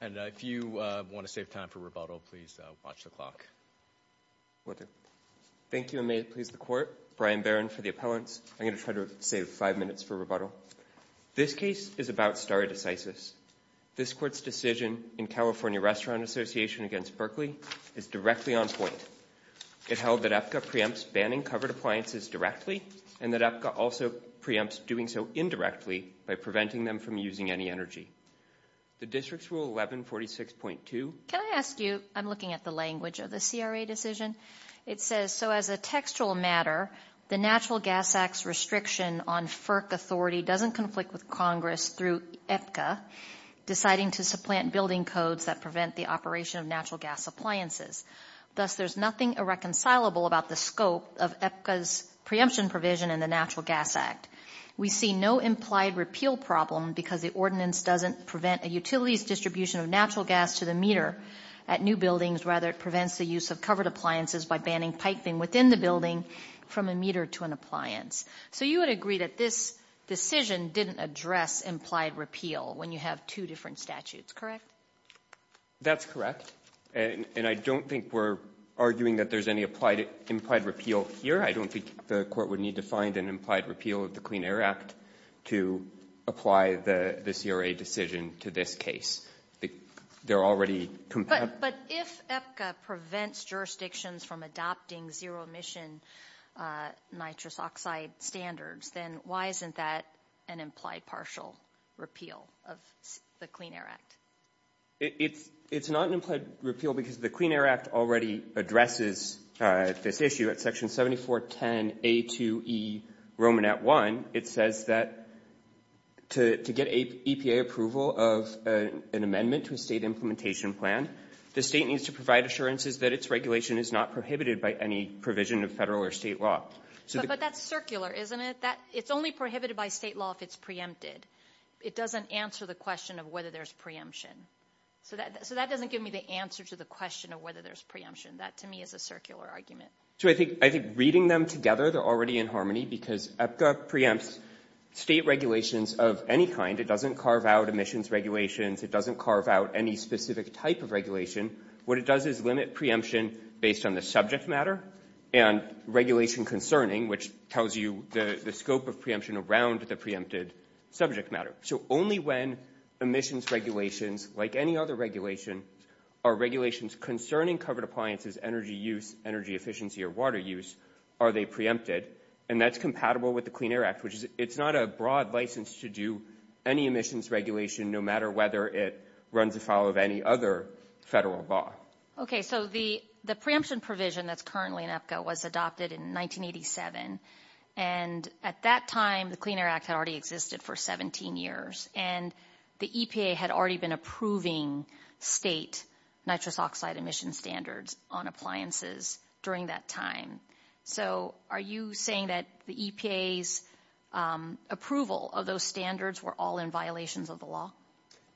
And if you want to save time for rebuttal, please watch the clock. Thank you and may it please the court. Brian Barron for the appellants. I'm going to try to save five minutes for rebuttal. This case is about stare decisis. This court's decision in California Restaurant Association against Berkeley is directly on point. It held that APCA preempts banning covered appliances directly and that APCA also preempts doing so indirectly by preventing them from using any energy. The district's rule 1146.2. Can I ask you? I'm looking at the language of the CRA decision. It says so as a textual matter, the Natural Gas Act's restriction on FERC authority doesn't conflict with Congress through APCA deciding to supplant building codes that prevent the operation of natural gas appliances. Thus, there's nothing irreconcilable about the scope of APCA's preemption provision in the Natural Gas Act. We see no implied repeal problem because the ordinance doesn't prevent a utility's distribution of natural gas to the meter at new buildings. Rather, it prevents the use of covered appliances by banning piping within the building from a meter to an appliance. So you would agree that this decision didn't address implied repeal when you have two different statutes, correct? That's correct. And I don't think we're arguing that there's any implied repeal here. I don't think the court would need to find an implied repeal of the Clean Air Act to apply the CRA decision to this case. But if APCA prevents jurisdictions from adopting zero emission nitrous oxide standards, then why isn't that an implied partial repeal of the Clean Air Act? It's not an implied repeal because the Clean Air Act already addresses this issue at Section 7410A2E Romanet 1. It says that to get EPA approval of an amendment to a state implementation plan, the state needs to provide assurances that its regulation is not prohibited by any provision of federal or state law. But that's circular, isn't it? It's only prohibited by state law if it's preempted. It doesn't answer the question of whether there's preemption. So that doesn't give me the answer to the question of whether there's preemption. That, to me, is a circular argument. So I think reading them together, they're already in harmony because APCA preempts state regulations of any kind. It doesn't carve out emissions regulations. It doesn't carve out any specific type of regulation. What it does is limit preemption based on the subject matter and regulation concerning, which tells you the scope of preemption around the preempted subject matter. So only when emissions regulations, like any other regulation, are regulations concerning covered appliances, energy use, energy efficiency, or water use, are they preempted. And that's compatible with the Clean Air Act, which is it's not a broad license to do any emissions regulation, no matter whether it runs afoul of any other federal law. Okay. So the preemption provision that's currently in APCA was adopted in 1987. And at that time, the Clean Air Act had already existed for 17 years. And the EPA had already been approving state nitrous oxide emission standards on appliances during that time. So are you saying that the EPA's approval of those standards were all in violations of the law?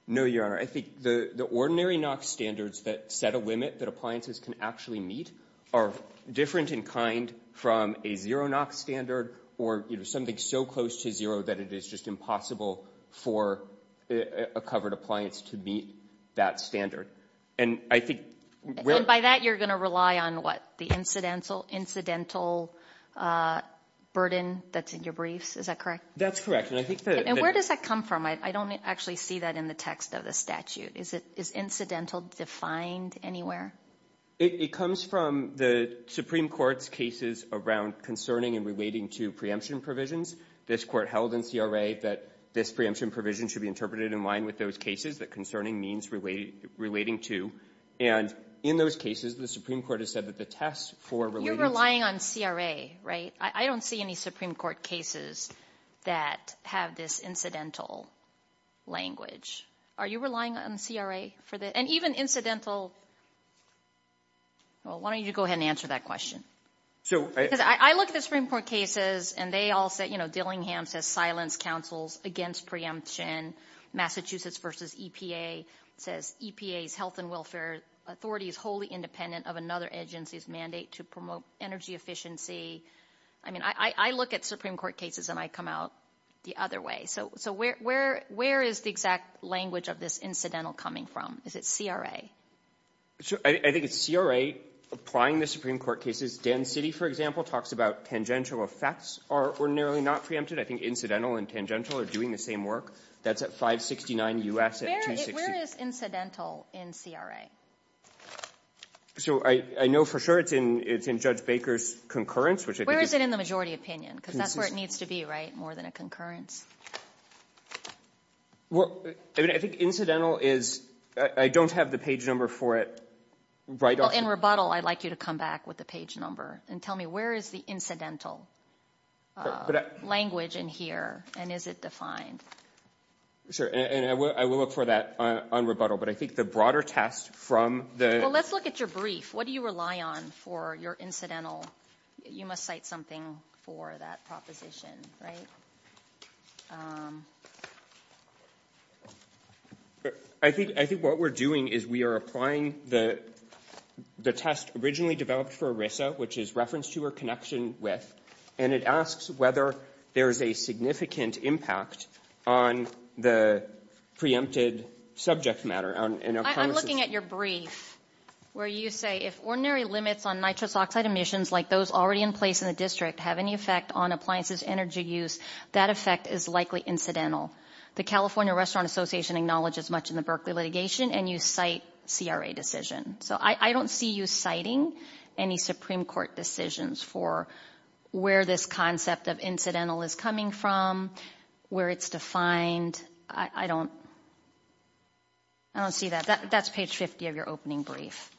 No, Your Honor. I think the ordinary NOx standards that set a limit that appliances can actually meet are different in kind from a zero NOx standard or, you know, something so close to zero that it is just impossible for a covered appliance to meet that standard. And I think where- And by that, you're going to rely on what? The incidental burden that's in your briefs. Is that correct? That's correct. And I think that- I don't see that in the text of the statute. Is incidental defined anywhere? It comes from the Supreme Court's cases around concerning and relating to preemption provisions. This court held in CRA that this preemption provision should be interpreted in line with those cases that concerning means relating to. And in those cases, the Supreme Court has said that the test for- You're relying on CRA, right? I don't see any Supreme Court cases that have this incidental language. Are you relying on CRA for the- and even incidental- well, why don't you go ahead and answer that question? So- Because I look at the Supreme Court cases and they all say, you know, Dillingham says silence counsels against preemption. Massachusetts v. EPA says EPA's health and welfare authority is wholly independent of another agency's mandate to promote energy efficiency. I mean, I look at Supreme Court cases and I come out the other way. So where is the exact language of this incidental coming from? Is it CRA? I think it's CRA applying the Supreme Court cases. Dan Citi, for example, talks about tangential effects are ordinarily not preempted. I think incidental and tangential are doing the same work. That's at 569 U.S. and 260- Where is incidental in CRA? So I know for sure it's in Judge Baker's concurrence, which I think is- Where is it in the majority opinion? Because that's where it needs to be, right? More than a concurrence? Well, I mean, I think incidental is- I don't have the page number for it right off the- Well, in rebuttal, I'd like you to come back with the page number and tell me where is the incidental language in here and is it defined? Sure, and I will look for that on rebuttal. But I think the broader test from the- Well, let's look at your brief. What do you rely on for your incidental? You must cite something for that proposition, right? I think what we're doing is we are applying the test originally developed for ERISA, which is reference to or connection with, and it asks whether there is a significant impact on the preempted subject matter. I'm looking at your brief where you say, if ordinary limits on nitrous oxide emissions like those already in place in the district have any effect on appliances energy use, that effect is likely incidental. The California Restaurant Association acknowledges much in the Berkeley litigation and you cite CRA decision. So I don't see you citing any Supreme Court decisions for where this concept of incidental is coming from, where it's defined. I don't see that. That's page 50 of your opening brief.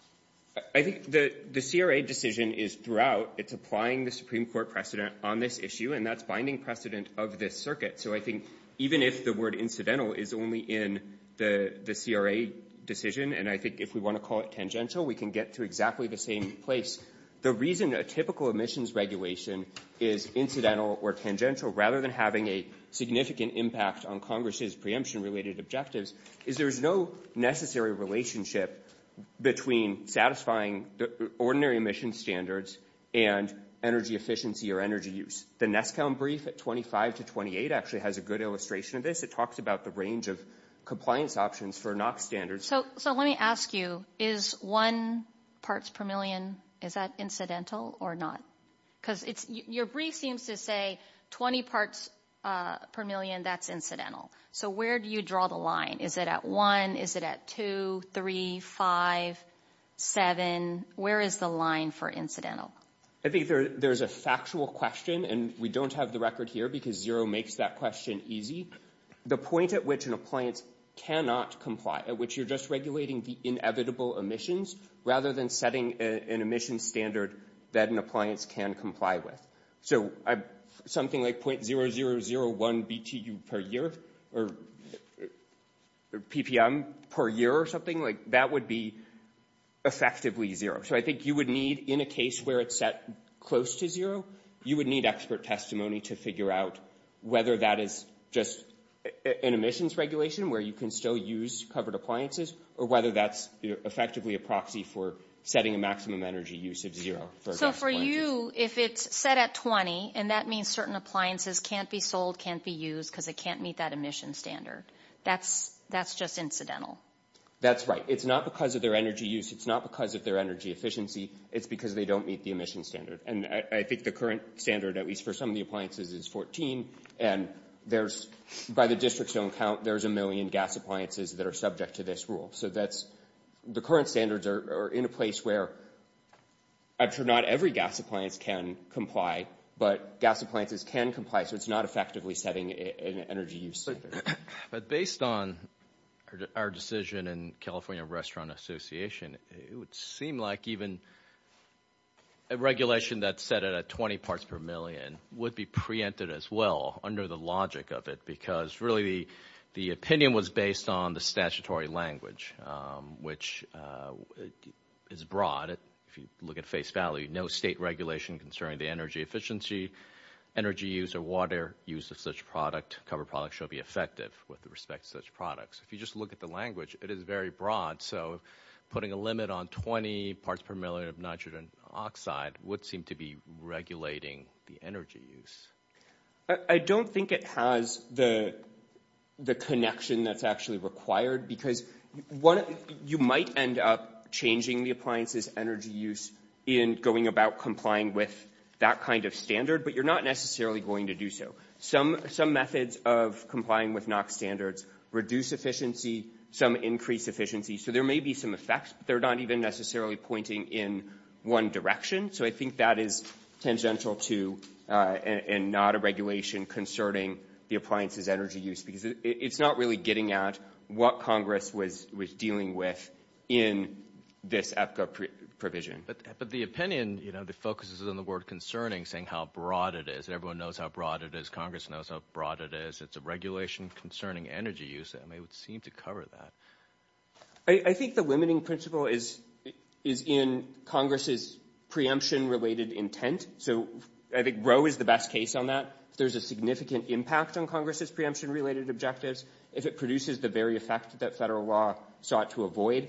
I think the CRA decision is throughout. It's applying the Supreme Court precedent on this issue, and that's binding precedent of this circuit. So I think even if the word incidental is only in the CRA decision, and I think if we want to call it tangential, we can get to exactly the same place. The reason a typical emissions regulation is incidental or tangential, rather than having a significant impact on Congress's preemption related objectives, is there is no necessary relationship between satisfying the ordinary emission standards and energy efficiency or energy use. The Neskow brief at 25 to 28 actually has a good illustration of this. It talks about the range of compliance options for NOx standards. So let me ask you, is one parts per million, is that incidental or not? Because your brief seems to say 20 parts per million, that's incidental. So where do you draw the line? Is it at one? Is it at two, three, five, seven? Where is the line for incidental? I think there's a factual question, and we don't have the record here because zero makes that question easy. The point at which an appliance cannot comply, at which you're just regulating the inevitable emissions, rather than setting an emission standard that an appliance can comply with. So something like .0001 BTU per year, or PPM per year or something, that would be effectively zero. So I think you would need, in a case where it's set close to zero, you would need expert testimony to figure out whether that is just an emissions regulation where you can still use covered appliances, or whether that's effectively a proxy for setting a maximum energy use of zero. So for you, if it's set at 20, and that means certain appliances can't be sold, can't be used, because it can't meet that emission standard, that's just incidental? That's right. It's not because of their energy use. It's not because of their energy efficiency. It's because they don't meet the emission standard. And I think the current standard, at least for some of the appliances, is 14. And there's, by the district's own count, there's a million gas appliances that are subject to this rule. So that's, the current standards are in a place where, I'm sure not every gas appliance can comply, but gas appliances can comply, so it's not effectively setting an energy use standard. But based on our decision in California Restaurant Association, it would seem like even a regulation that's set at 20 parts per million would be preempted as well, under the logic of it, because really the opinion was based on the statutory language, which is broad. If you look at face value, no state regulation concerning the energy efficiency, energy use, or water use of such product, covered products, should be effective with respect to such products. If you just look at the language, it is very broad. So putting a limit on 20 parts per million of nitrogen oxide would seem to be regulating the energy use. I don't think it has the connection that's actually required, because you might end up changing the appliance's energy use in going about complying with that kind of standard, but you're not necessarily going to do so. Some methods of complying with NOx standards reduce efficiency, some increase efficiency, so there may be some effects, but they're not even necessarily pointing in one direction. So I think that is tangential to and not a regulation concerning the appliance's energy use, because it's not really getting at what Congress was dealing with in this EPCA provision. But the opinion focuses on the word concerning, saying how broad it is. Everyone knows how broad it is. Congress knows how broad it is. It's a regulation concerning energy use. It may seem to cover that. I think the limiting principle is in Congress's preemption-related intent. So I think Roe is the best case on that. If there's a significant impact on Congress's preemption-related objectives, if it produces the very effect that federal law sought to avoid,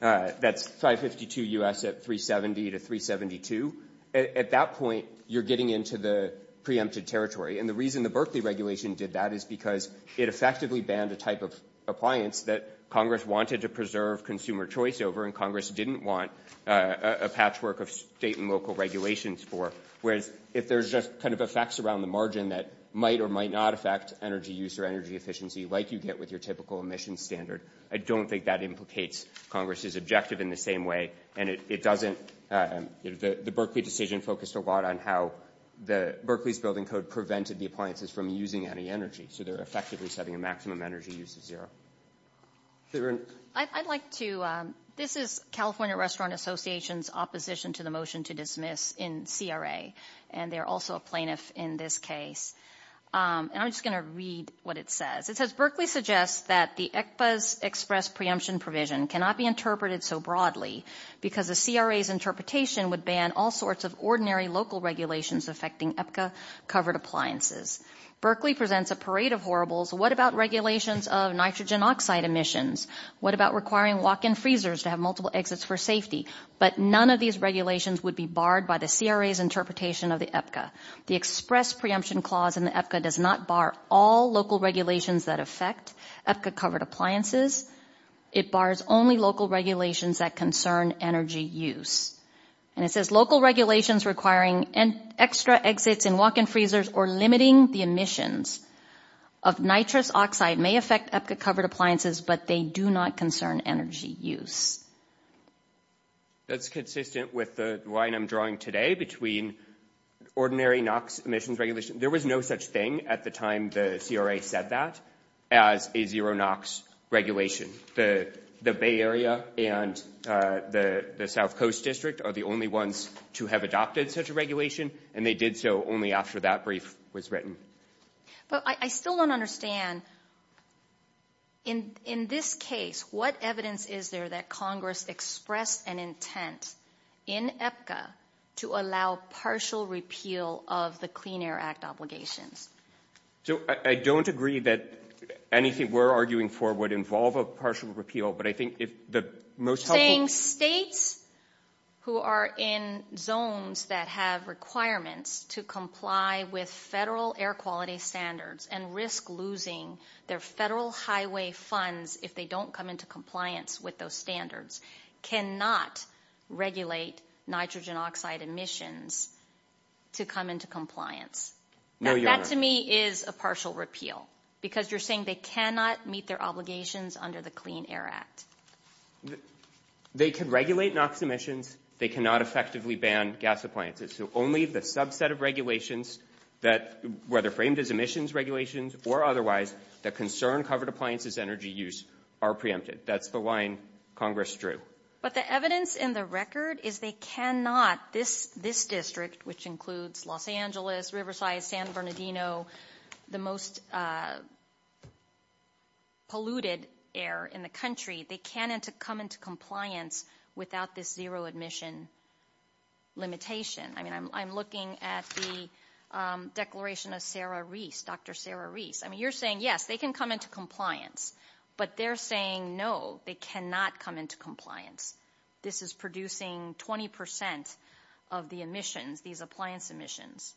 that's 552 U.S. at 370 to 372, at that point you're getting into the preempted territory. And the reason the Berkeley regulation did that is because it effectively banned a type of appliance that Congress wanted to preserve consumer choice over and Congress didn't want a patchwork of state and local regulations for, whereas if there's just kind of effects around the margin that might or might not affect energy use or energy efficiency like you get with your typical emissions standard, I don't think that implicates Congress's objective in the same way, and it doesn't. The Berkeley decision focused a lot on how the Berkeley's building code prevented the appliances from using any energy. So they're effectively setting a maximum energy use of zero. I'd like to ‑‑ this is California Restaurant Association's opposition to the motion to dismiss in CRA, and they're also a plaintiff in this case. And I'm just going to read what it says. It says, Berkeley suggests that the ECPA's express preemption provision cannot be interpreted so broadly because the CRA's interpretation would ban all sorts of ordinary local regulations affecting EPCA-covered appliances. Berkeley presents a parade of horribles. What about regulations of nitrogen oxide emissions? What about requiring walk‑in freezers to have multiple exits for safety? But none of these regulations would be barred by the CRA's interpretation of the EPCA. The express preemption clause in the EPCA does not bar all local regulations that affect EPCA-covered appliances. It bars only local regulations that concern energy use. And it says, local regulations requiring extra exits in walk‑in freezers or limiting the emissions of nitrous oxide may affect EPCA-covered appliances, but they do not concern energy use. That's consistent with the line I'm drawing today between ordinary NOx emissions regulations. There was no such thing at the time the CRA said that as a zero NOx regulation. The Bay Area and the South Coast District are the only ones to have adopted such a regulation, and they did so only after that brief was written. But I still don't understand, in this case, what evidence is there that Congress expressed an intent in EPCA to allow partial repeal of the Clean Air Act obligations? So, I don't agree that anything we're arguing for would involve a partial repeal, but I think if the most helpful— The states who are in zones that have requirements to comply with federal air quality standards and risk losing their federal highway funds if they don't come into compliance with those standards cannot regulate nitrogen oxide emissions to come into compliance. That, to me, is a partial repeal, because you're saying they cannot meet their obligations under the Clean Air Act. They can regulate NOx emissions. They cannot effectively ban gas appliances. So, only the subset of regulations that, whether framed as emissions regulations or otherwise, that concern covered appliances energy use are preempted. That's the line Congress drew. But the evidence in the record is they cannot. This district, which includes Los Angeles, Riverside, San Bernardino, the most polluted air in the country, they can't come into compliance without this zero-admission limitation. I mean, I'm looking at the declaration of Sarah Reese, Dr. Sarah Reese. I mean, you're saying, yes, they can come into compliance, but they're saying, no, they cannot come into compliance. This is producing 20 percent of the emissions, these appliance emissions.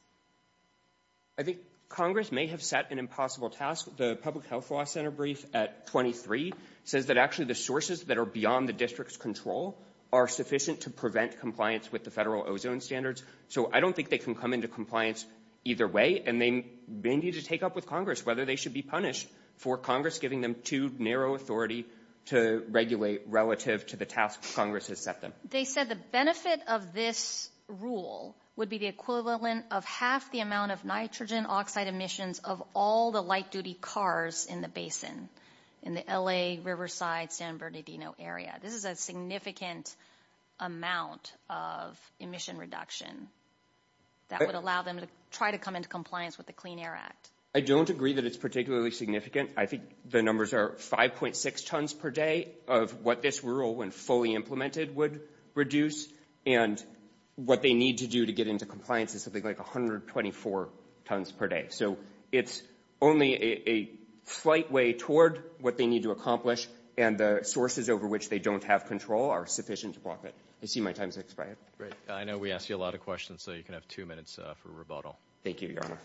I think Congress may have set an impossible task. The Public Health Law Center brief at 23 says that, actually, the sources that are beyond the district's control are sufficient to prevent compliance with the federal ozone standards. So, I don't think they can come into compliance either way, and they need to take up with Congress whether they should be punished for Congress giving them too narrow authority to regulate relative to the task Congress has set them. They said the benefit of this rule would be the equivalent of half the amount of nitrogen oxide emissions of all the light-duty cars in the basin, in the LA, Riverside, San Bernardino area. This is a significant amount of emission reduction that would allow them to try to come into compliance with the Clean Air Act. I don't agree that it's particularly significant. I think the numbers are 5.6 tons per day of what this rule, when fully implemented, would reduce, and what they need to do to get into compliance is something like 124 tons per day. So, it's only a slight way toward what they need to accomplish, and the sources over which they don't have control are sufficient to block it. I see my time has expired. Great. I know we asked you a lot of questions, so you can have two minutes for rebuttal. Thank you, Your Honor.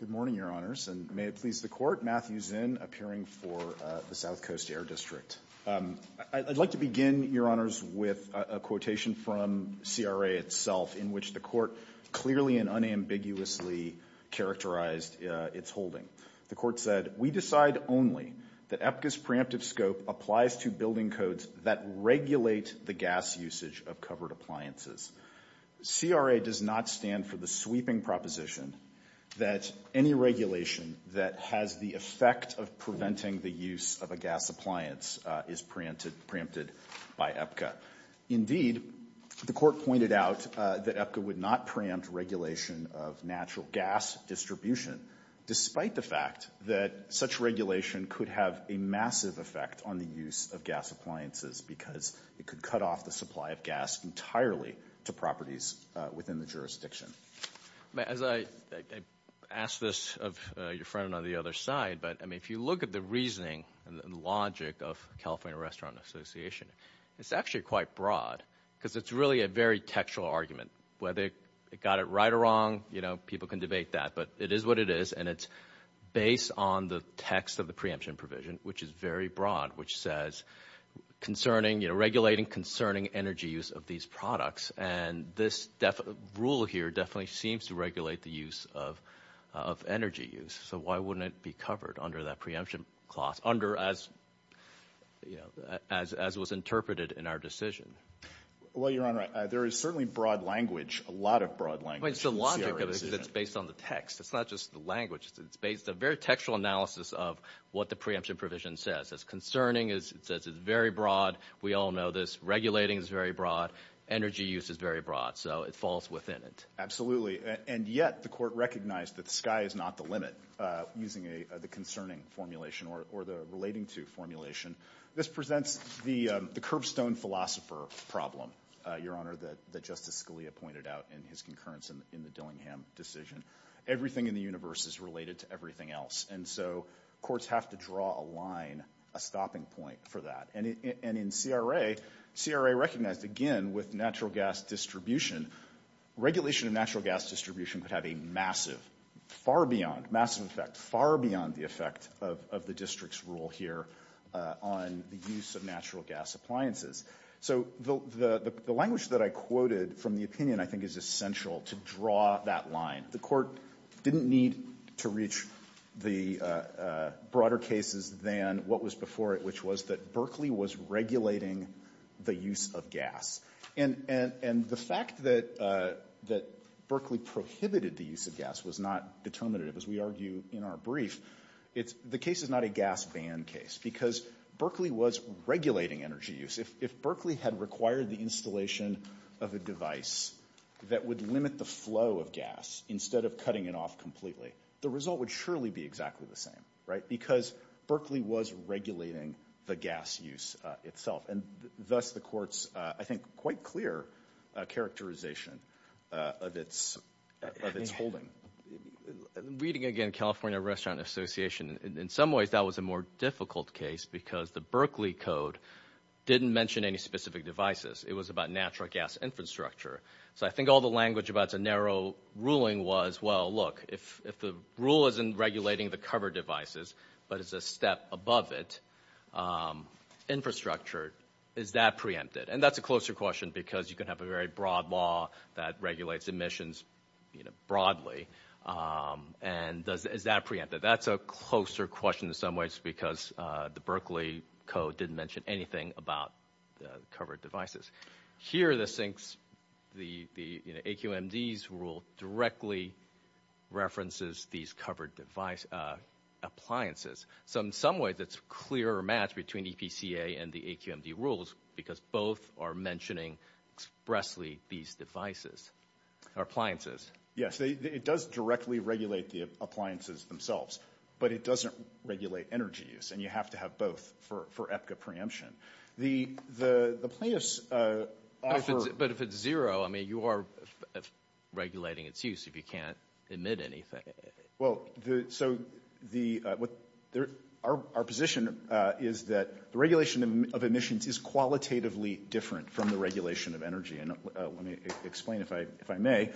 Good morning, Your Honors, and may it please the Court. Matthew Zinn, appearing for the South Coast Air District. I'd like to begin, Your Honors, with a quotation from CRA itself, in which the Court clearly and unambiguously characterized its holding. The Court said, We decide only that EPCA's preemptive scope applies to building codes that regulate the gas usage of covered appliances. CRA does not stand for the sweeping proposition that any regulation that has the effect of preventing the use of a gas appliance is preempted by EPCA. Indeed, the Court pointed out that EPCA would not preempt regulation of natural gas distribution, despite the fact that such regulation could have a massive effect on the use of gas appliances because it could cut off the supply of gas entirely to properties within the jurisdiction. As I asked this of your friend on the other side, but, I mean, if you look at the reasoning and the logic of California Restaurant Association, it's actually quite broad because it's really a very textual argument. Whether it got it right or wrong, you know, people can debate that, but it is what it is, and it's based on the text of the preemption provision, which is very broad, which says, you know, regulating concerning energy use of these products, and this rule here definitely seems to regulate the use of energy use, so why wouldn't it be covered under that preemption clause, under as was interpreted in our decision? Well, your Honor, there is certainly broad language, a lot of broad language. I mean, it's the logic that's based on the text. It's not just the language. It's based on a very textual analysis of what the preemption provision says. It's concerning. It says it's very broad. We all know this. Regulating is very broad. Energy use is very broad, so it falls within it. Absolutely, and yet the Court recognized that the sky is not the limit, using the concerning formulation or the relating to formulation. This presents the curbstone philosopher problem, your Honor, that Justice Scalia pointed out in his concurrence in the Dillingham decision. Everything in the universe is related to everything else, and so courts have to draw a line, a stopping point for that. And in CRA, CRA recognized, again, with natural gas distribution, regulation of natural gas distribution could have a massive, far beyond, massive effect, far beyond the effect of the district's rule here on the use of natural gas appliances. So the language that I quoted from the opinion, I think, is essential to draw that line. The Court didn't need to reach the broader cases than what was before it, which was that Berkeley was regulating the use of gas. And the fact that Berkeley prohibited the use of gas was not determinative, as we argue in our brief. The case is not a gas ban case because Berkeley was regulating energy use. If Berkeley had required the installation of a device that would limit the flow of gas instead of cutting it off completely, the result would surely be exactly the same, right, because Berkeley was regulating the gas use itself. And thus the Court's, I think, quite clear characterization of its holding. Reading again California Restaurant Association, in some ways that was a more difficult case because the Berkeley code didn't mention any specific devices. It was about natural gas infrastructure. So I think all the language about it's a narrow ruling was, well, look, if the rule isn't regulating the covered devices but it's a step above it, infrastructure, is that preempted? And that's a closer question because you can have a very broad law that regulates emissions broadly. And is that preempted? That's a closer question in some ways because the Berkeley code didn't mention anything about covered devices. Here the AQMD's rule directly references these covered appliances. So in some ways it's a clear match between EPCA and the AQMD rules because both are mentioning expressly these devices or appliances. Yes, it does directly regulate the appliances themselves, but it doesn't regulate energy use. And you have to have both for EPCA preemption. The plaintiffs offer- But if it's zero, I mean, you are regulating its use if you can't emit anything. Well, so our position is that the regulation of emissions is qualitatively different from the regulation of energy. Let me explain, if I may.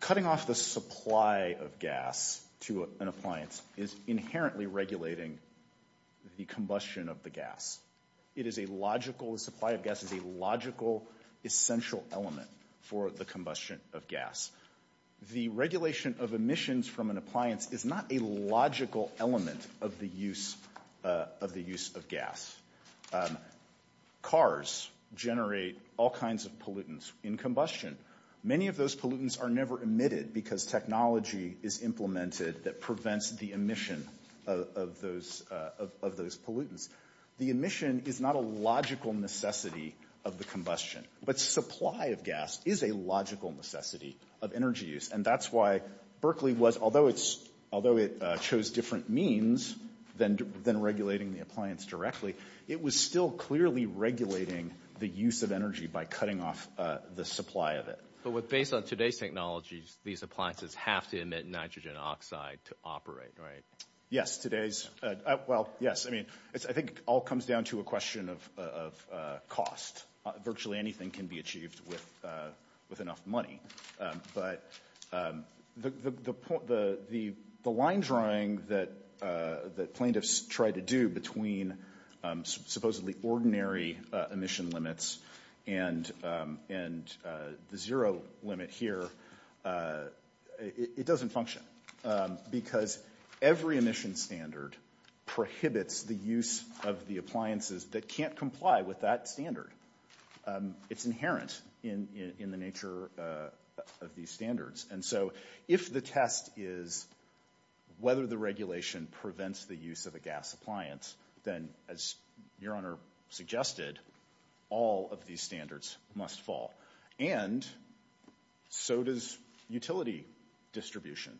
Cutting off the supply of gas to an appliance is inherently regulating the combustion of the gas. It is a logical- the supply of gas is a logical, essential element for the combustion of gas. The regulation of emissions from an appliance is not a logical element of the use of gas. Cars generate all kinds of pollutants in combustion. Many of those pollutants are never emitted because technology is implemented that prevents the emission of those pollutants. The emission is not a logical necessity of the combustion, but supply of gas is a logical necessity of energy use. And that's why Berkeley was- although it chose different means than regulating the appliance directly, it was still clearly regulating the use of energy by cutting off the supply of it. But based on today's technologies, these appliances have to emit nitrogen oxide to operate, right? Yes, today's- well, yes. I mean, I think it all comes down to a question of cost. Virtually anything can be achieved with enough money. But the line drawing that plaintiffs try to do between supposedly ordinary emission limits and the zero limit here, it doesn't function because every emission standard prohibits the use of the appliances that can't comply with that standard. It's inherent in the nature of these standards. And so if the test is whether the regulation prevents the use of a gas appliance, then, as Your Honor suggested, all of these standards must fall. And so does utility distribution.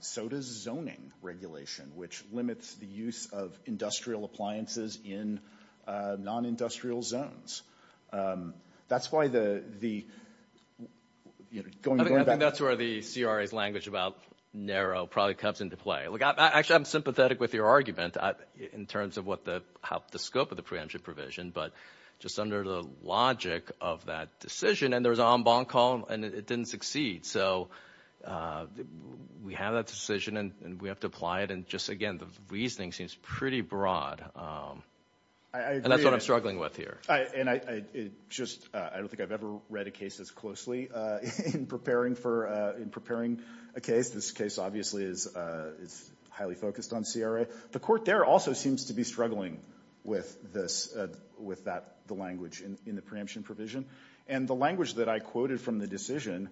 So does zoning regulation, which limits the use of industrial appliances in non-industrial zones. That's why the- I think that's where the CRA's language about narrow probably comes into play. Look, actually, I'm sympathetic with your argument in terms of the scope of the preemption provision. But just under the logic of that decision, and there was an en banc call, and it didn't succeed. So we have that decision, and we have to apply it. And just, again, the reasoning seems pretty broad. And that's what I'm struggling with here. And I just- I don't think I've ever read a case as closely in preparing for- in preparing a case. This case obviously is highly focused on CRA. The court there also seems to be struggling with this- with that- the language in the preemption provision. And the language that I quoted from the decision,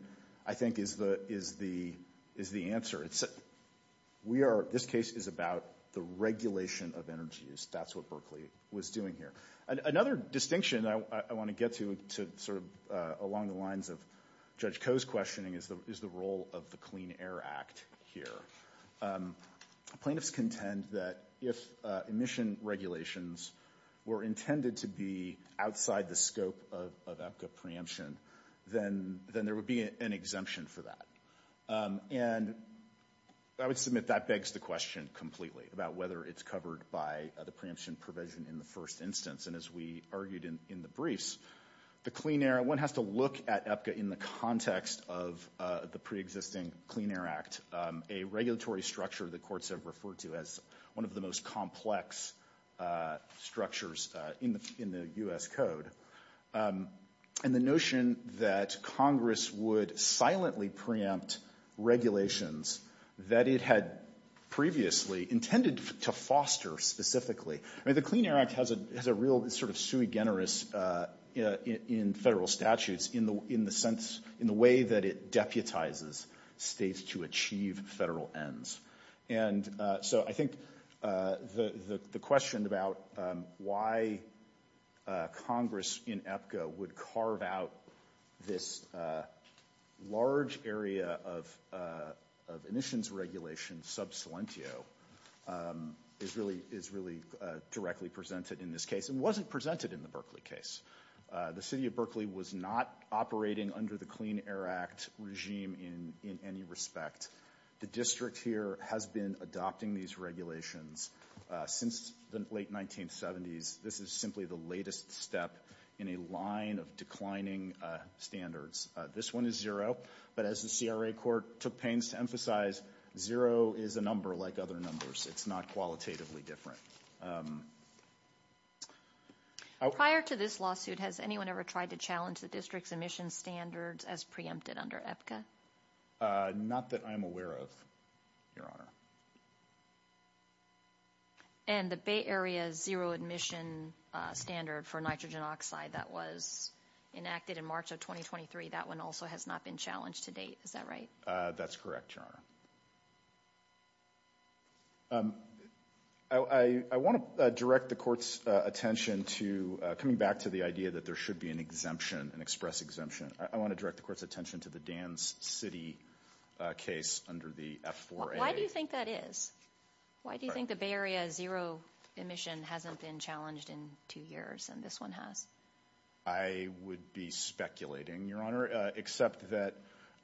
I think, is the answer. We are- this case is about the regulation of energy use. That's what Berkeley was doing here. Another distinction I want to get to sort of along the lines of Judge Koh's questioning is the role of the Clean Air Act here. Plaintiffs contend that if emission regulations were intended to be outside the scope of EPCA preemption, then there would be an exemption for that. And I would submit that begs the question completely about whether it's covered by the preemption provision in the first instance. And as we argued in the briefs, the Clean Air- one has to look at EPCA in the context of the preexisting Clean Air Act, a regulatory structure the courts have referred to as one of the most complex structures in the U.S. Code. And the notion that Congress would silently preempt regulations that it had previously intended to foster specifically. I mean, the Clean Air Act has a real sort of sui generis in federal statutes in the sense- in the way that it deputizes states to achieve federal ends. And so I think the question about why Congress in EPCA would carve out this large area of emissions regulation, sub silentio, is really directly presented in this case. It wasn't presented in the Berkeley case. The city of Berkeley was not operating under the Clean Air Act regime in any respect. The district here has been adopting these regulations since the late 1970s. This is simply the latest step in a line of declining standards. This one is zero. But as the CRA court took pains to emphasize, zero is a number like other numbers. It's not qualitatively different. Prior to this lawsuit, has anyone ever tried to challenge the district's emission standards as preempted under EPCA? Not that I'm aware of, Your Honor. And the Bay Area zero emission standard for nitrogen oxide that was enacted in March of 2023, that one also has not been challenged to date. Is that right? That's correct, Your Honor. I want to direct the court's attention to coming back to the idea that there should be an exemption, an express exemption. I want to direct the court's attention to the Dan's City case under the F4A. Why do you think that is? Why do you think the Bay Area zero emission hasn't been challenged in two years and this one has? I would be speculating, Your Honor, except that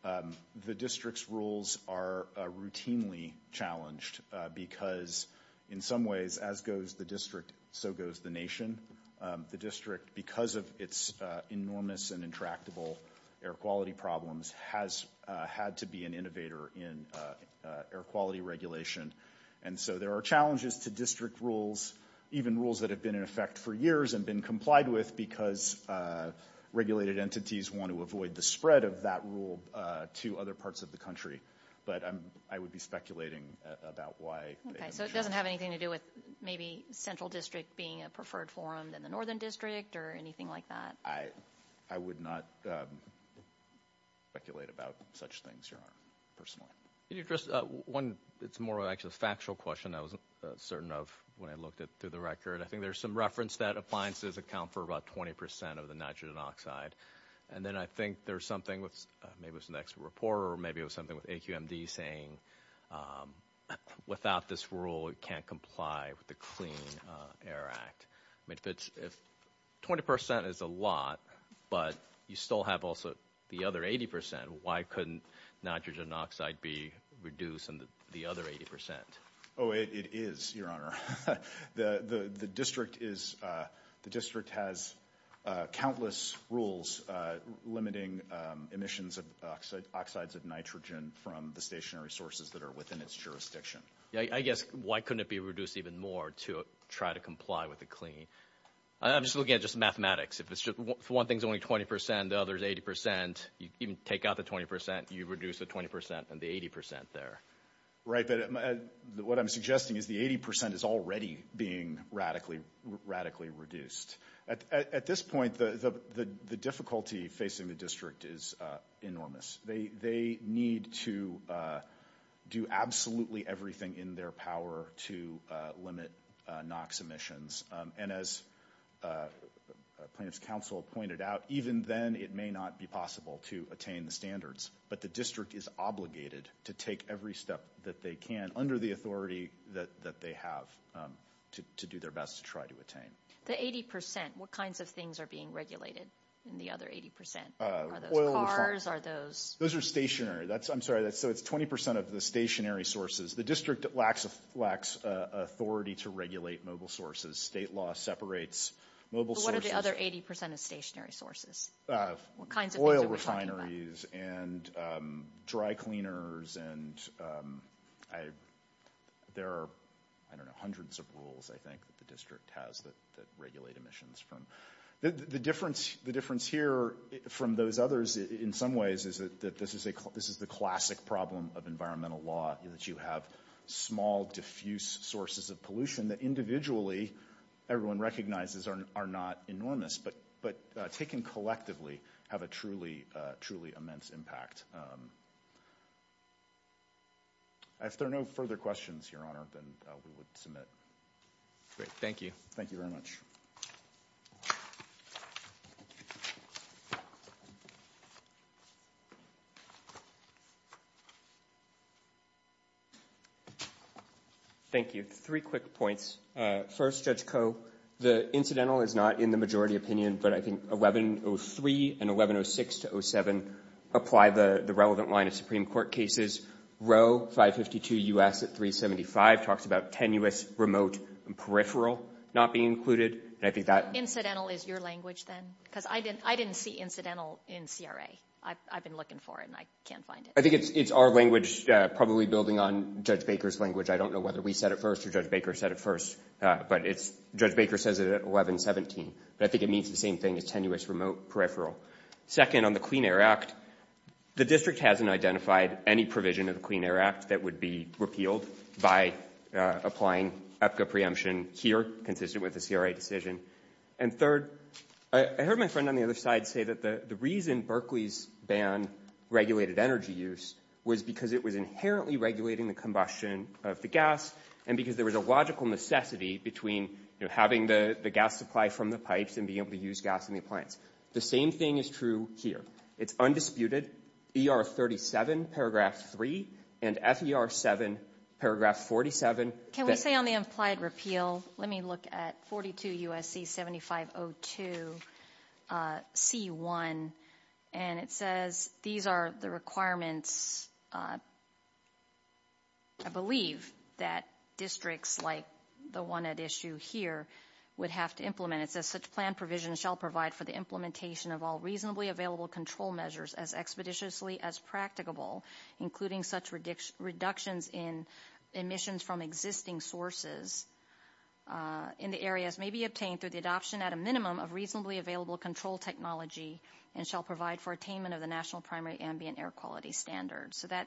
the district's rules are routinely challenged because, in some ways, as goes the district, so goes the nation. The district, because of its enormous and intractable air quality problems, has had to be an innovator in air quality regulation. And so there are challenges to district rules, even rules that have been in effect for years and been complied with because regulated entities want to avoid the spread of that rule to other parts of the country. But I would be speculating about why. Okay. So it doesn't have anything to do with maybe Central District being a preferred forum than the Northern District or anything like that? I would not speculate about such things, Your Honor, personally. Can you address one that's more of actually a factual question I wasn't certain of when I looked it through the record? I think there's some reference that appliances account for about 20 percent of the nitrogen oxide. And then I think there's something with maybe it was an expert reporter or maybe it was something with AQMD saying without this rule, it can't comply with the Clean Air Act. I mean, 20 percent is a lot, but you still have also the other 80 percent. Why couldn't nitrogen oxide be reduced in the other 80 percent? Oh, it is, Your Honor. The district has countless rules limiting emissions of oxides of nitrogen from the stationary sources that are within its jurisdiction. I guess why couldn't it be reduced even more to try to comply with the clean? I'm just looking at just mathematics. If one thing is only 20 percent, the other is 80 percent, you even take out the 20 percent, you reduce the 20 percent and the 80 percent there. Right, but what I'm suggesting is the 80 percent is already being radically reduced. At this point, the difficulty facing the district is enormous. They need to do absolutely everything in their power to limit NOx emissions. And as plaintiff's counsel pointed out, even then it may not be possible to attain the standards. But the district is obligated to take every step that they can under the authority that they have to do their best to try to attain. The 80 percent, what kinds of things are being regulated in the other 80 percent? Are those cars? Are those? Those are stationary. I'm sorry, so it's 20 percent of the stationary sources. The district lacks authority to regulate mobile sources. State law separates mobile sources. But what are the other 80 percent of stationary sources? What kinds of things are we talking about? Oil refineries and dry cleaners. And there are, I don't know, hundreds of rules, I think, that the district has that regulate emissions from. The difference here from those others in some ways is that this is the classic problem of environmental law, that you have small, diffuse sources of pollution that individually everyone recognizes are not enormous. But taken collectively, have a truly, truly immense impact. If there are no further questions, Your Honor, then we would submit. Thank you. Thank you very much. Thank you. Three quick points. First, Judge Koh, the incidental is not in the majority opinion. But I think 1103 and 1106 to 07 apply the relevant line of Supreme Court cases. Row 552 U.S. at 375 talks about tenuous, remote, and peripheral not being included. And I think that — Incidental is your language then? Because I didn't see incidental in CRA. I've been looking for it, and I can't find it. I think it's our language, probably building on Judge Baker's language. I don't know whether we said it first or Judge Baker said it first, but it's — Judge Baker says it at 1117. But I think it means the same thing as tenuous, remote, peripheral. Second, on the Clean Air Act, the district hasn't identified any provision of the Clean Air Act that would be repealed by applying EPCA preemption here, consistent with the CRA decision. And third, I heard my friend on the other side say that the reason Berkeley's ban regulated energy use was because it was inherently regulating the combustion of the gas and because there was a logical necessity between having the gas supply from the pipes and being able to use gas in the appliance. The same thing is true here. It's undisputed. ER 37, paragraph 3, and FER 7, paragraph 47. Can we say on the implied repeal, let me look at 42 U.S.C. 7502 C1, and it says these are the requirements I believe that districts like the one at issue here would have to implement. It says such plan provision shall provide for the implementation of all reasonably available control measures as expeditiously as practicable, including such reductions in emissions from existing sources in the areas may be obtained through the adoption at a minimum of reasonably available control technology and shall provide for attainment of the national primary ambient air quality standards. So that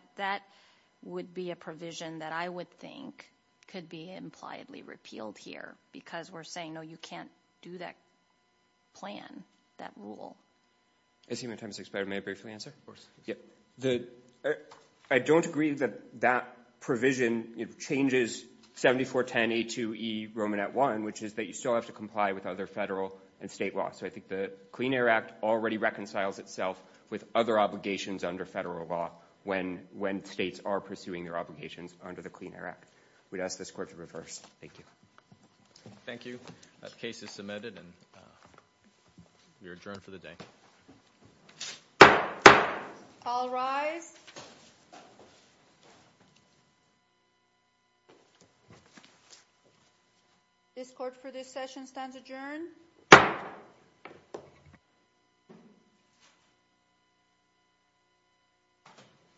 would be a provision that I would think could be impliedly repealed here because we're saying, no, you can't do that plan, that rule. I see my time has expired. May I briefly answer? I don't agree that that provision changes 7410A2E Romanet 1, which is that you still have to comply with other federal and state law. So I think the Clean Air Act already reconciles itself with other obligations under federal law when states are pursuing their obligations under the Clean Air Act. We'd ask this court to reverse. Thank you. Thank you. The case is submitted, and you're adjourned for the day. All rise. This court for this session stands adjourned. Thank you.